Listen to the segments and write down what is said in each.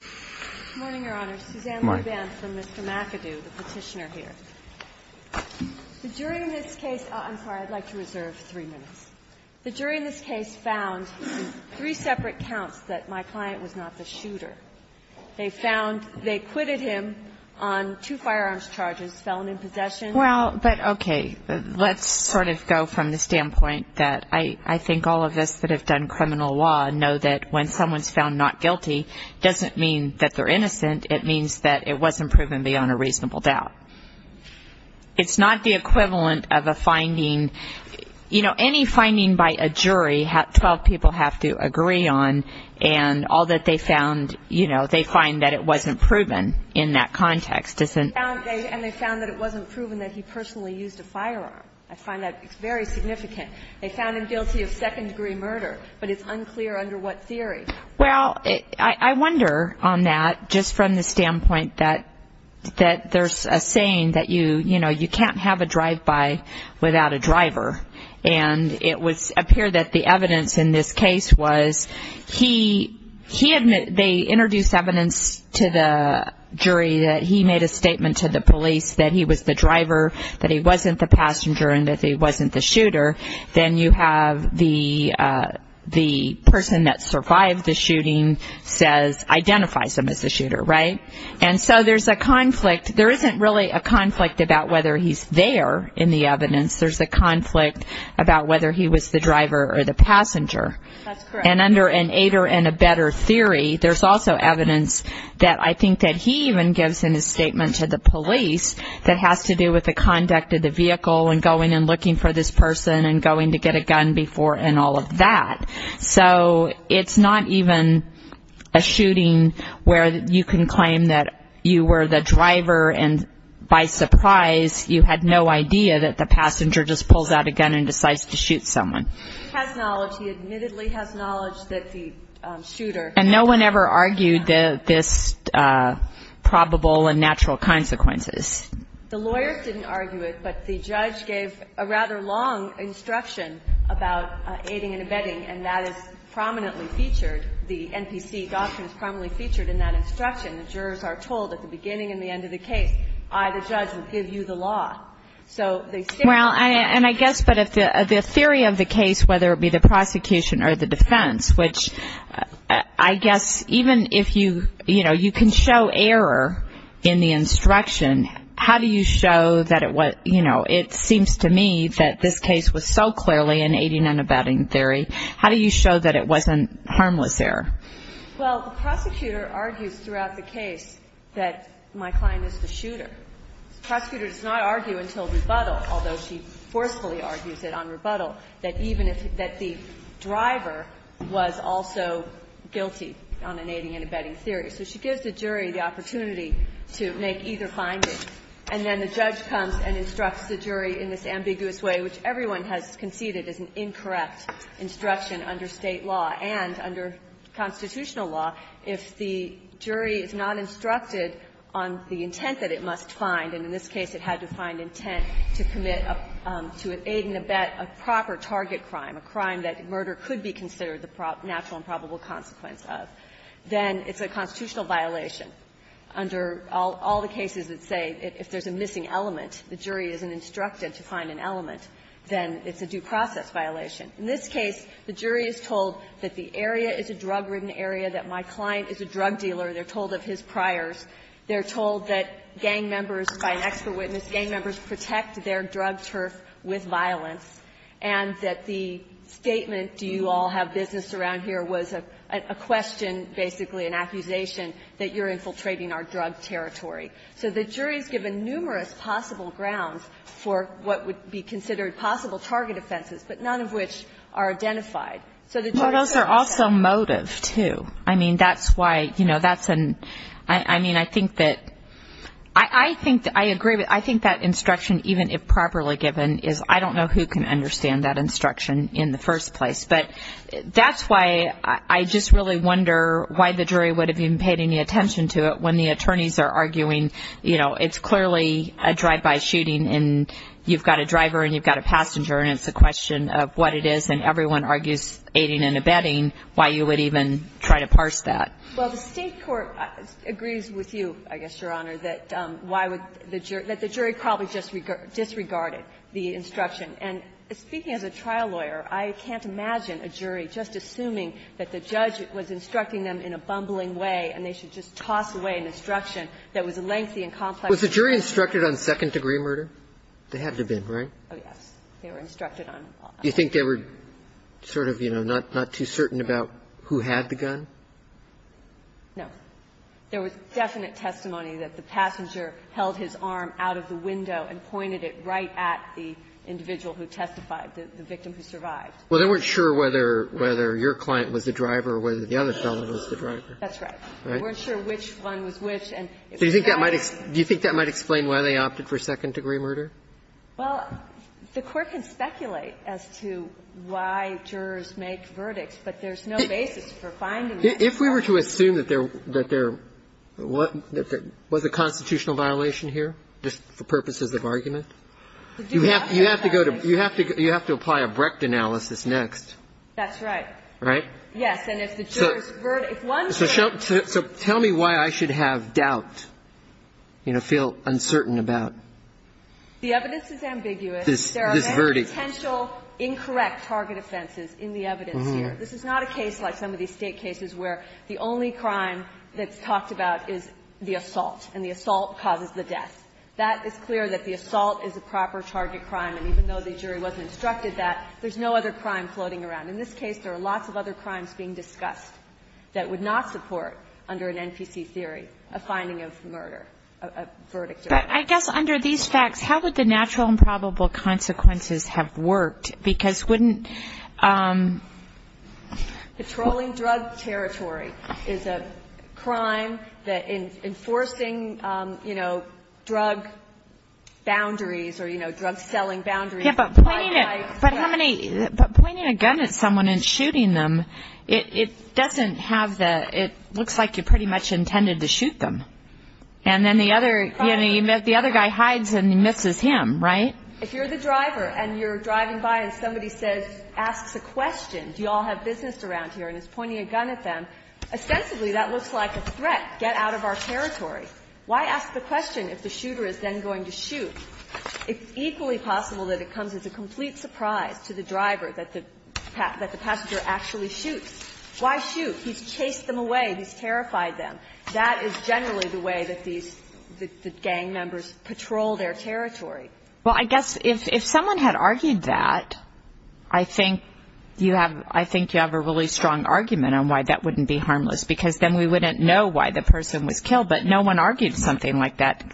The jury in this case found in three separate counts that my client was not the shooter. They found, they acquitted him on two firearms charges, felon in possession. Well, but okay, let's sort of go from the standpoint that I think all of us that have done criminal law know that when someone's found not guilty, it doesn't mean that they're innocent. It means that it wasn't proven beyond a reasonable doubt. It's not the equivalent of a finding. You know, any finding by a jury, 12 people have to agree on, and all that they found, you know, they find that it wasn't proven in that context. And they found that it wasn't proven that he personally used a firearm. I find that very significant. They found him guilty of second-degree murder, but it's unclear under what theory. Well, I wonder on that, just from the standpoint that there's a saying that, you know, you can't have a drive-by without a driver. And it appeared that the evidence in this case was they introduced evidence to the jury that he made a statement to the police that he was the driver, that he wasn't the passenger, and that he wasn't the shooter. Then you have the person that survived the shooting identifies him as the shooter, right? And so there's a conflict. There isn't really a conflict about whether he's there in the evidence. There's a conflict about whether he was the driver or the passenger. That's correct. And under an aider and abetter theory, there's also evidence that I think that he even gives in his statement to the police that has to do with the conduct of the vehicle and going and looking for this person and going to get a gun before and all of that. So it's not even a shooting where you can claim that you were the driver and by surprise you had no idea that the passenger just pulls out a gun and decides to shoot someone. He has knowledge. He admittedly has knowledge that the shooter. And no one ever argued this probable and natural consequences. The lawyers didn't argue it, but the judge gave a rather long instruction about aiding and abetting, and that is prominently featured. The NPC doctrine is prominently featured in that instruction. The jurors are told at the beginning and the end of the case, I, the judge, will give you the law. So they say. Well, and I guess, but the theory of the case, whether it be the prosecution or the defense, which I guess even if you, you know, you can show error in the instruction, how do you show that it was, you know, it seems to me that this case was so clearly an aiding and abetting theory. How do you show that it wasn't harmless error? Well, the prosecutor argues throughout the case that my client is the shooter. The prosecutor does not argue until rebuttal, although she forcefully argues it on rebuttal, that even if, that the driver was also guilty on an aiding and abetting theory. So she gives the jury the opportunity to make either finding. And then the judge comes and instructs the jury in this ambiguous way, which everyone has conceded is an incorrect instruction under State law and under constitutional law. If the jury is not instructed on the intent that it must find, and in this case it had to find intent to commit, to aid and abet a proper target crime, a crime that murder could be considered the natural and probable consequence of, then it's a constitutional violation. Under all the cases that say if there's a missing element, the jury isn't instructed to find an element, then it's a due process violation. In this case, the jury is told that the area is a drug-ridden area, that my client is a drug dealer. They're told of his priors. They're told that gang members, by an expert witness, gang members protect their drug turf with violence, and that the statement, do you all have business around here, was a question, basically an accusation, that you're infiltrating our drug territory. So the jury is given numerous possible grounds for what would be considered possible target offenses, but none of which are identified. So the jury says that's it. I mean, I think that, I agree, but I think that instruction, even if properly given, is I don't know who can understand that instruction in the first place. But that's why I just really wonder why the jury would have even paid any attention to it when the attorneys are arguing, you know, it's clearly a drive-by shooting, and you've got a driver, and you've got a passenger, and it's a question of what it is, and everyone argues aiding and abetting, why you would even try to parse that. Well, the State court agrees with you, I guess, Your Honor, that why would the jury – that the jury probably disregarded the instruction. And speaking as a trial lawyer, I can't imagine a jury just assuming that the judge was instructing them in a bumbling way, and they should just toss away an instruction that was lengthy and complex. Was the jury instructed on second-degree murder? They had to have been, right? Oh, yes. They were instructed on it. No. There was definite testimony that the passenger held his arm out of the window and pointed it right at the individual who testified, the victim who survived. Well, they weren't sure whether your client was the driver or whether the other fellow was the driver. That's right. They weren't sure which one was which, and if it was that one. Do you think that might explain why they opted for second-degree murder? Well, the Court can speculate as to why jurors make verdicts, but there's no basis for finding that. If we were to assume that there was a constitutional violation here, just for purposes of argument, you have to apply a Brecht analysis next. That's right. Right? Yes. And if the jurors' verdicts one thing. So tell me why I should have doubt, you know, feel uncertain about. The evidence is ambiguous. This verdict. There are many potential incorrect target offenses in the evidence here. This is not a case like some of these State cases where the only crime that's talked about is the assault, and the assault causes the death. That is clear that the assault is a proper target crime, and even though the jury wasn't instructed that, there's no other crime floating around. In this case, there are lots of other crimes being discussed that would not support, under an NPC theory, a finding of murder, a verdict. But I guess under these facts, how would the natural and probable consequences have worked? Because wouldn't... Patrolling drug territory is a crime that enforcing, you know, drug boundaries, or, you know, drug selling boundaries. Yeah, but pointing a gun at someone and shooting them, it doesn't have the, it looks like you pretty much intended to shoot them. And then the other, you know, the other guy hides and misses him, right? If you're the driver and you're driving by and somebody says, asks a question, do you all have business around here, and is pointing a gun at them, ostensibly that looks like a threat. Get out of our territory. Why ask the question if the shooter is then going to shoot? It's equally possible that it comes as a complete surprise to the driver that the passenger actually shoots. Why shoot? He's chased them away. He's terrified them. That is generally the way that these, the gang members patrol their territory. Well, I guess if someone had argued that, I think you have, I think you have a really strong argument on why that wouldn't be harmless. Because then we wouldn't know why the person was killed. But no one argued something like that.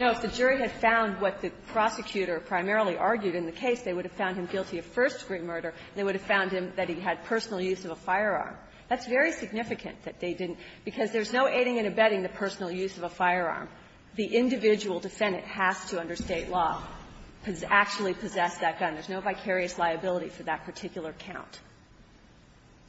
No, if the jury had found what the prosecutor primarily argued in the case, they would have found him guilty of first-degree murder, and they would have found him that he had personal use of a firearm. That's very significant that they didn't, because there's no aiding and abetting the personal use of a firearm. The individual defendant has to, under state law, actually possess that gun. There's no vicarious liability for that particular count.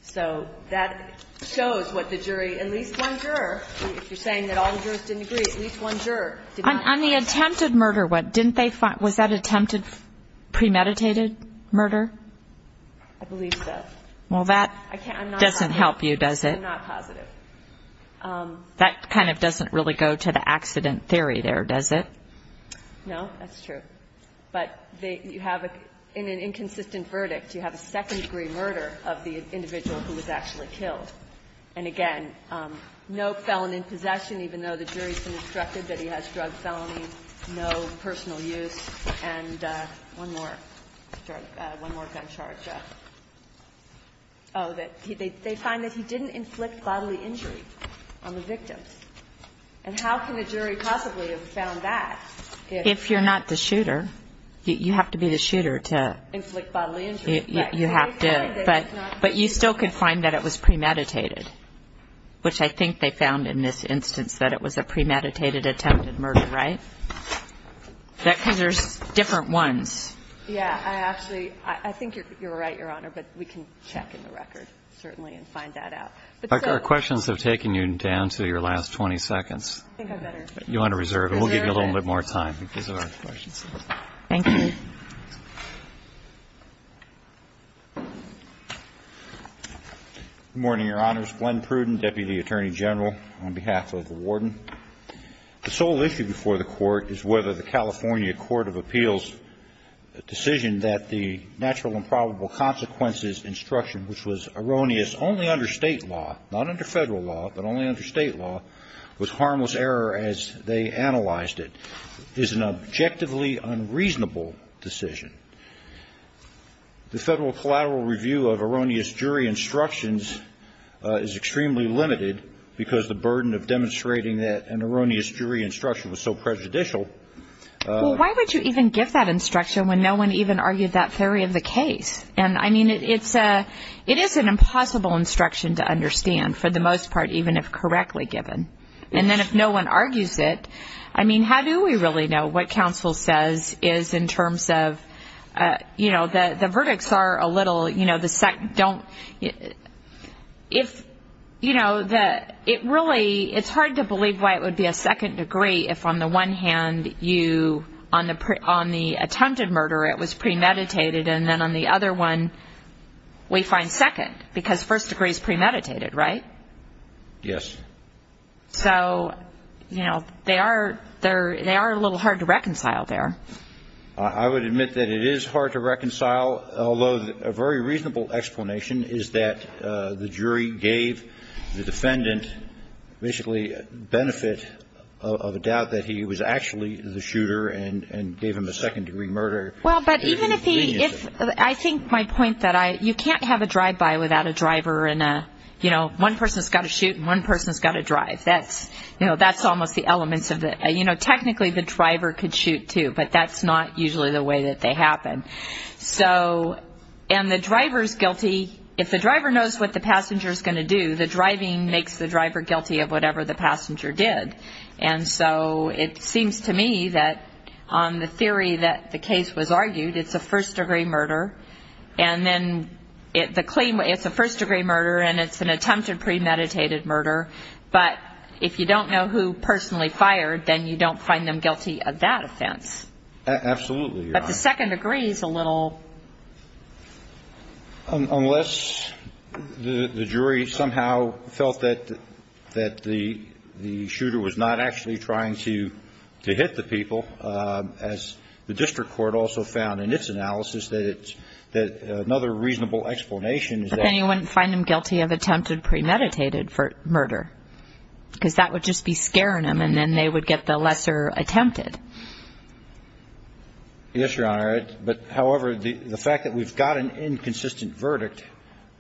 So that shows what the jury, at least one juror, if you're saying that all the jurors didn't agree, at least one juror did not. On the attempted murder, what, didn't they find, was that attempted premeditated murder? I believe so. Well, that doesn't help you, does it? I'm not positive. That kind of doesn't really go to the accident theory there, does it? No, that's true. But you have, in an inconsistent verdict, you have a second-degree murder of the individual who was actually killed. And again, no felon in possession, even though the jury's instructed that he has drug felony, no personal use, and one more gun charge. drug felony, no personal use, and one more gun charge. Oh, that they find that he didn't inflict bodily injury on the victim. And how can a jury possibly have found that if he had? If you're not the shooter, you have to be the shooter to you have to. Inflict bodily injury. And then, of course, the jury's going to want to find out whether the individual And the jury's going to want to find out whether that was premeditated, which I think they found in this instance that it was a premeditated attempted murder, right? Because there's different ones. Yeah. I actually, I think you're right, Your Honor, but we can check in the record, certainly, and find that out. Our questions have taken you down to your last 20 seconds. I think I better. You want to reserve it. We'll give you a little bit more time. Thank you. Good morning, Your Honors. Glenn Pruden, Deputy Attorney General, on behalf of the Warden. The sole issue before the Court is whether the California Court of Appeals decision that the natural and probable consequences instruction, which was erroneous only under State law, not under Federal law, but only under State law, was harmless error as they analyzed it, is an objectively unreasonable decision. The Federal collateral review of erroneous jury instructions is extremely limited because the burden of demonstrating that an erroneous jury instruction was so prejudicial. Well, why would you even give that instruction when no one even argued that theory of the case? And, I mean, it is an impossible instruction to understand, for the most part, even if correctly given. And then if no one argues it, I mean, how do we really know what counsel says is in terms of, you know, the verdicts are a little, you know, the second, don't, if, you know, the, it really, it's hard to believe why it would be a second degree if, on the one hand, you, on the, on the attempted murder, it was premeditated, and then on the other one, we find second, because first degree is premeditated, right? Yes. So, you know, they are, they're, they are a little hard to reconcile there. I would admit that it is hard to reconcile, although a very reasonable explanation is that the jury gave the defendant basically benefit of a doubt that he was actually the shooter and, and gave him a second degree murder. Well, but even if he, if, I think my point that I, you can't have a drive by without a driver and a, you know, one person's got to shoot and one person's got to drive. That's, you know, that's almost the elements of the, you know, technically the driver could shoot too, but that's not usually the way that they happen. So, and the driver's guilty, if the driver knows what the passenger is going to do, the driving makes the driver guilty of whatever the passenger did. And so it seems to me that on the theory that the case was argued, it's a first degree murder. And then it, the claim, it's a first degree murder and it's an attempted premeditated murder. But if you don't know who personally fired, then you don't find them guilty of that offense. Absolutely. But the second degree is a little. Unless the jury somehow felt that, that the, the shooter was not actually trying to, to hit the people as the district court also found in its analysis that it's, that another reasonable explanation is that. And you wouldn't find them guilty of attempted premeditated for murder. Cause that would just be scaring them and then they would get the lesser attempted. Yes, Your Honor. But however, the fact that we've got an inconsistent verdict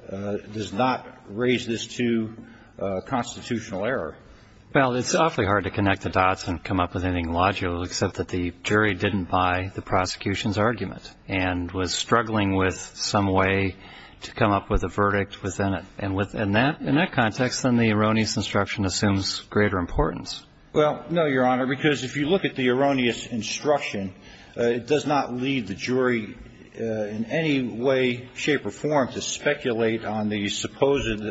does not raise this to a constitutional error. Well, it's awfully hard to connect the dots and come up with anything logical, except that the jury didn't buy the prosecution's argument and was struggling with some way to come up with a verdict within it. And within that, in that context, then the erroneous instruction assumes greater importance. Well, no, Your Honor, because if you look at the erroneous instruction, it does not lead the jury in any way, shape or form to speculate on the supposed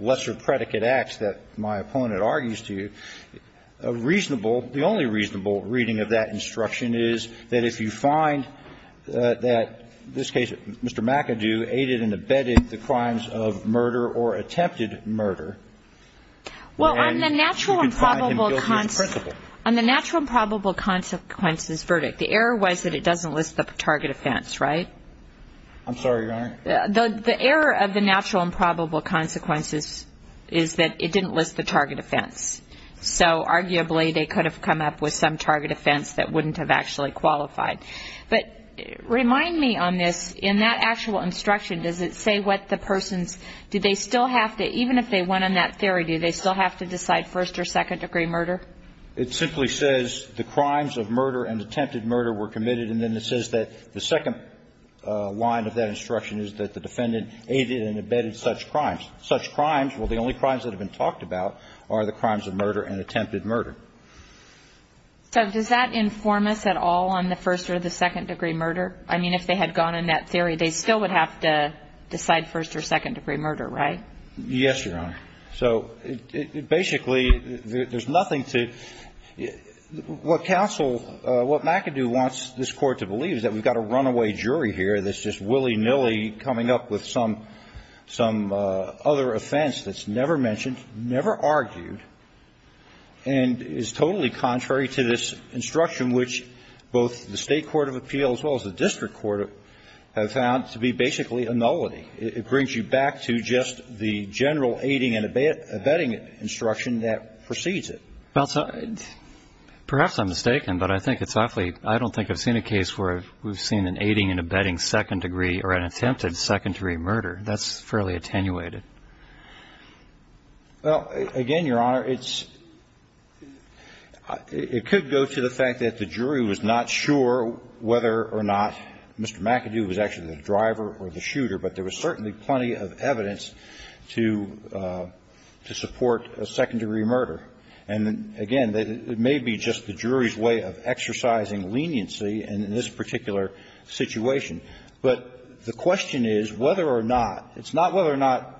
lesser predicate acts that my opponent argues to you. A reasonable, the only reasonable reading of that instruction is that if you find that this case, Mr. McAdoo aided and abetted the crimes of murder or attempted murder. Well, on the natural and probable consequences, on the natural and probable consequences verdict, the error was that it doesn't list the target offense, right? I'm sorry, Your Honor. The error of the natural and probable consequences is that it didn't list the target offense. So arguably they could have come up with some target offense that wouldn't have actually qualified. But remind me on this, in that actual instruction, does it say what the person's, do they still have to, even if they went on that theory, do they still have to decide first or second degree murder? It simply says the crimes of murder and attempted murder were committed. And then it says that the second line of that instruction is that the defendant aided and abetted such crimes. Such crimes, well, the only crimes that have been talked about are the crimes of murder and attempted murder. So does that inform us at all on the first or the second degree murder? I mean, if they had gone on that theory, they still would have to decide first or second degree murder, right? Yes, Your Honor. So basically there's nothing to, what counsel, what McAdoo wants this court to believe is that we've got a runaway jury here that's just willy nilly coming up with some, some other offense that's never mentioned, never argued. And is totally contrary to this instruction, which both the state court of appeals as well as the district court have found to be basically a nullity. It brings you back to just the general aiding and abetting instruction that precedes it. Well, perhaps I'm mistaken, but I think it's awfully, I don't think I've seen a case where we've seen an aiding and abetting second degree or an attempted second degree murder. That's fairly attenuated. Well, again, Your Honor, it's, it could go to the fact that the jury was not sure whether or not Mr. McAdoo was actually the driver or the shooter, but there was certainly plenty of evidence to, to support a second degree murder. And again, it may be just the jury's way of exercising leniency in this particular situation. But the question is whether or not, it's not whether or not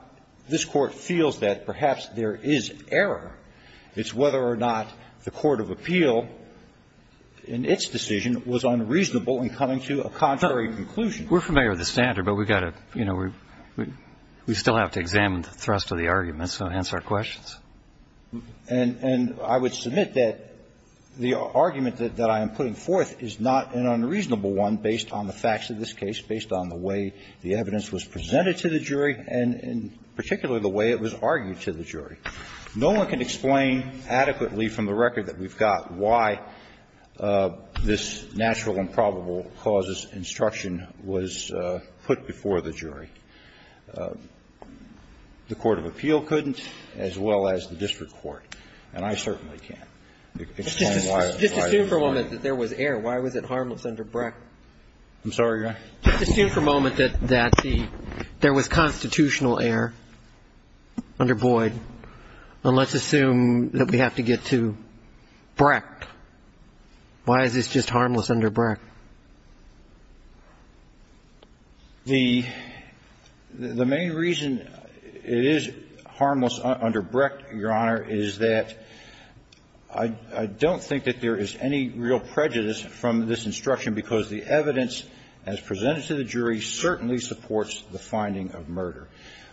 this Court feels that perhaps there is error. It's whether or not the court of appeal in its decision was unreasonable in coming to a contrary conclusion. We're familiar with the standard, but we've got to, you know, we still have to examine the thrust of the arguments to answer our questions. And, and I would submit that the argument that I am putting forth is not an unreasonable one, based on the facts of this case, based on the way the evidence was presented to the jury, and particularly the way it was argued to the jury. No one can explain adequately from the record that we've got why this natural improbable causes instruction was put before the jury. The court of appeal couldn't, as well as the district court, and I certainly can't explain why. Roberts, I'm sorry, I'm sorry. Just assume for a moment that there was error. Why was it harmless under Brecht? I'm sorry, Your Honor? Just assume for a moment that there was constitutional error under Boyd, and let's assume that we have to get to Brecht. Why is this just harmless under Brecht? The main reason it is harmless under Brecht, Your Honor, is that I don't think that there is any real prejudice from this instruction, because the evidence as presented to the jury certainly supports the finding of murder.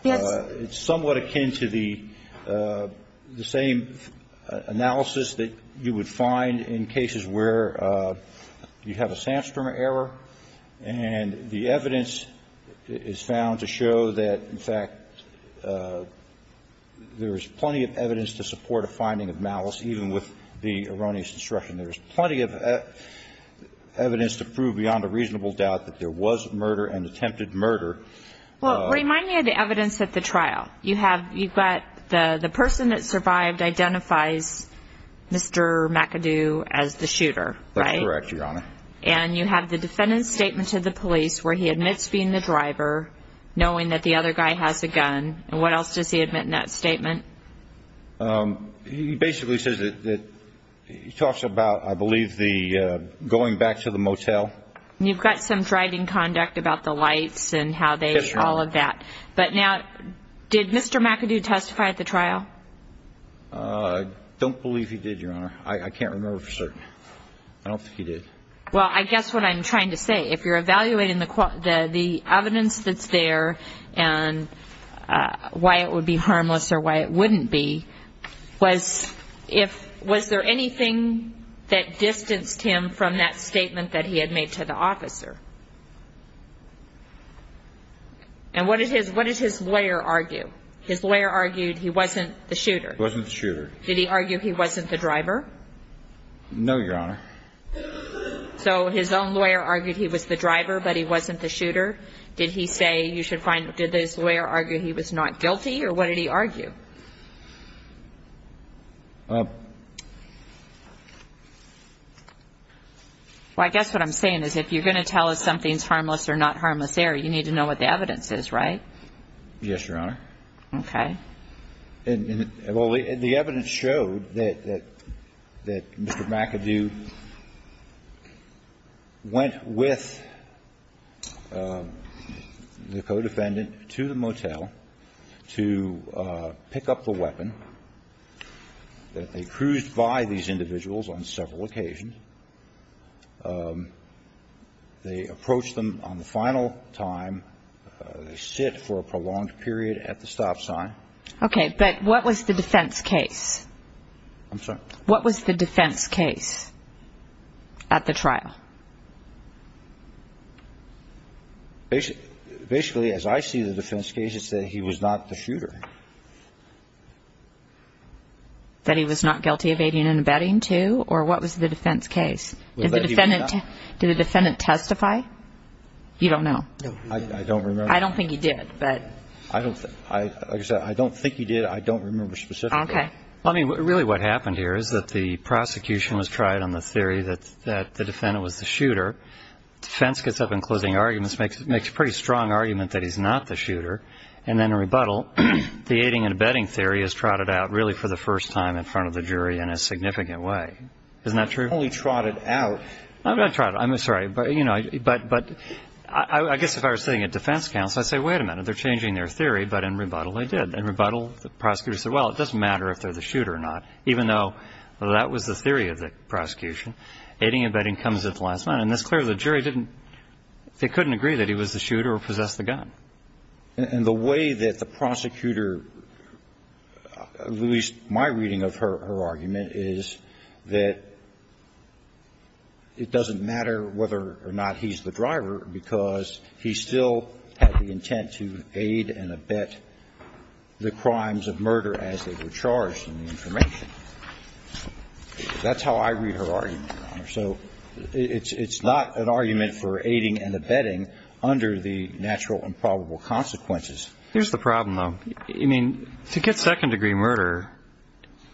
It's somewhat akin to the same analysis that you would find in cases where you have a Samstrom error, and the evidence is found to show that, in fact, there is plenty of evidence to support a finding of malice, even with the erroneous instruction. There is plenty of evidence to prove beyond a reasonable doubt that there was murder and attempted murder. Well, remind me of the evidence at the trial. You've got the person that survived identifies Mr. McAdoo as the shooter, right? That's correct, Your Honor. And you have the defendant's statement to the police where he admits being the driver, knowing that the other guy has a gun. And what else does he admit in that statement? He basically says that he talks about, I believe, going back to the motel. You've got some driving conduct about the lights and how they, all of that. But now, did Mr. McAdoo testify at the trial? Don't believe he did, Your Honor. I can't remember for certain. I don't think he did. Well, I guess what I'm trying to say, if you're evaluating the evidence that's there and why it would be harmless or why it wouldn't be, was if, was there anything that distanced him from that statement that he had made to the officer? And what did his, what did his lawyer argue? His lawyer argued he wasn't the shooter. He wasn't the shooter. Did he argue he wasn't the driver? No, Your Honor. So his own lawyer argued he was the driver, but he wasn't the shooter. Did he say, you should find, did his lawyer argue he was not guilty? Or what did he argue? Well, I guess what I'm saying is, if you're going to tell us something's harmless or not harmless there, you need to know what the evidence is, right? Yes, Your Honor. Okay. And, and, well, the, the evidence showed that, that, that Mr. McAdoo went with the co-defendant to the motel to pick up the weapon. That they cruised by these individuals on several occasions. They approached them on the final time. They sit for a prolonged period at the stop sign. Okay, but what was the defense case? I'm sorry? What was the defense case at the trial? Basically, as I see the defense case, it said he was not the shooter. That he was not guilty of aiding and abetting, too? Or what was the defense case? Did the defendant, did the defendant testify? You don't know. No, I don't remember. I don't think he did, but. I don't, I, like I said, I don't think he did. I don't remember specifically. Okay. I mean, really what happened here is that the prosecution was tried on the theory that, that the defendant was the shooter. Defense gets up in closing arguments, makes, makes a pretty strong argument that he's not the shooter. And then in rebuttal, the aiding and abetting theory is trotted out, really, for the first time in front of the jury in a significant way. Isn't that true? Only trotted out. I'm not trotting, I'm sorry, but, you know, but, but, I, I guess if I was sitting at defense counsel, I'd say, wait a minute, they're changing their theory. But in rebuttal, they did. In rebuttal, the prosecutor said, well, it doesn't matter if they're the shooter or not. Even though, well, that was the theory of the prosecution. Aiding and abetting comes at the last minute. And it's clear the jury didn't, they couldn't agree that he was the shooter or possessed the gun. And, and the way that the prosecutor, at least my reading of her, her argument is that it doesn't matter whether or not he's the driver because he still had the intent to aid and abet the person who was charged in the information. That's how I read her argument, your honor. So it's, it's not an argument for aiding and abetting under the natural and probable consequences. Here's the problem, though. I mean, to get second degree murder,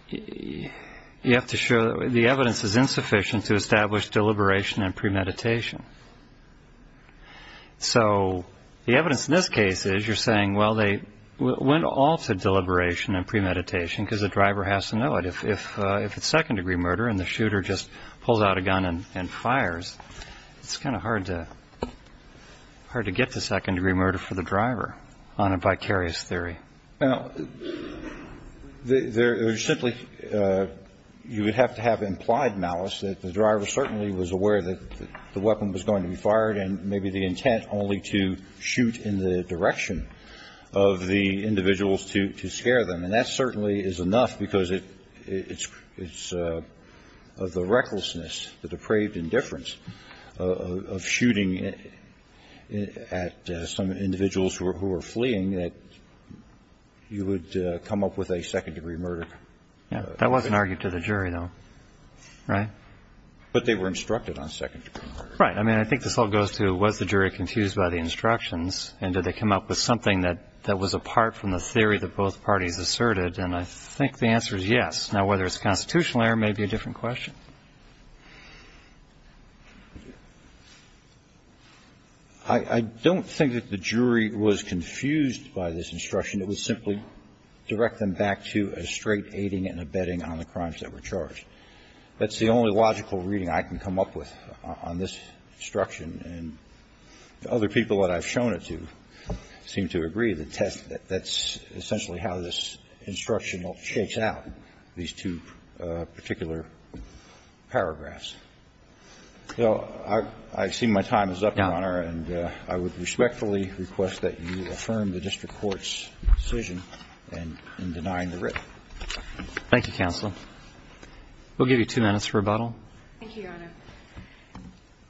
you have to show that the evidence is insufficient to establish deliberation and premeditation. So, the evidence in this case is, you're saying, well, they went all to deliberation and premeditation because the driver has to know it. If, if, if it's second degree murder and the shooter just pulls out a gun and, and fires, it's kind of hard to, hard to get to second degree murder for the driver on a vicarious theory. Now, there, there's simply, you would have to have implied malice, that the driver certainly was aware that the weapon was going to be fired. And maybe the intent only to shoot in the direction of the individuals to, to scare them. And that certainly is enough because it, it's, it's of the recklessness, the depraved indifference of, of shooting at some individuals who are, who are fleeing that you would come up with a second degree murder. Yeah, that wasn't argued to the jury though, right? But they were instructed on second degree murder. Right. I mean, I think this all goes to, was the jury confused by the instructions? And did they come up with something that, that was apart from the theory that both parties asserted? And I think the answer is yes. Now, whether it's constitutional error may be a different question. I, I don't think that the jury was confused by this instruction. It was simply direct them back to a straight aiding and abetting on the crimes that were charged. That's the only logical reading I can come up with on this instruction. And the other people that I've shown it to seem to agree that that's essentially how this instruction shakes out these two particular paragraphs. So I, I see my time is up, Your Honor, and I would respectfully request that you affirm the district court's decision in denying the writ. Thank you, counsel. We'll give you two minutes for rebuttal. Thank you, Your Honor.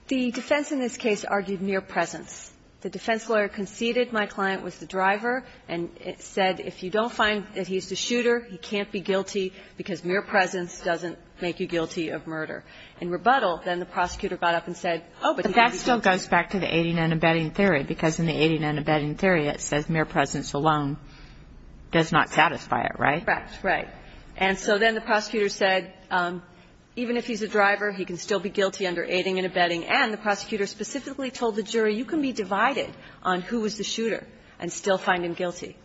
The defense in this case argued mere presence. The defense lawyer conceded my client was the driver and said if you don't find that he's the shooter, he can't be guilty because mere presence doesn't make you guilty of murder. In rebuttal, then the prosecutor got up and said, oh, but he had the gun. But that still goes back to the aiding and abetting theory, because in the aiding and abetting theory it says mere presence alone does not satisfy it, right? Right. And so then the prosecutor said even if he's a driver, he can still be guilty under aiding and abetting. And the prosecutor specifically told the jury, you can be divided on who is the shooter and still find him guilty.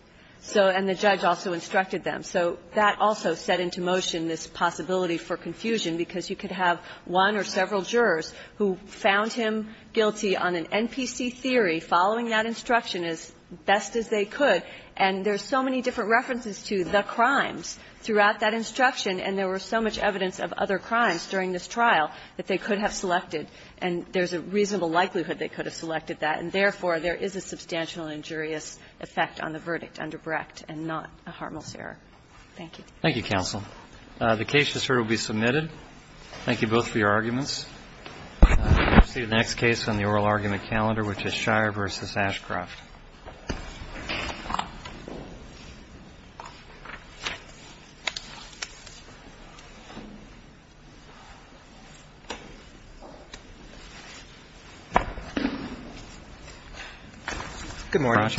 So and the judge also instructed them. So that also set into motion this possibility for confusion, because you could have one or several jurors who found him guilty on an NPC theory, following that instruction as best as they could. And there's so many different references to the crimes throughout that instruction, and there was so much evidence of other crimes during this trial that they could have selected. And there's a reasonable likelihood they could have selected that. And therefore, there is a substantial injurious effect on the verdict under Brecht and not a Hartmell's error. Thank you. Thank you, counsel. The case, as heard, will be submitted. Thank you both for your arguments. We'll see the next case on the oral argument calendar, which is Shire v. Ashcroft. Thank you.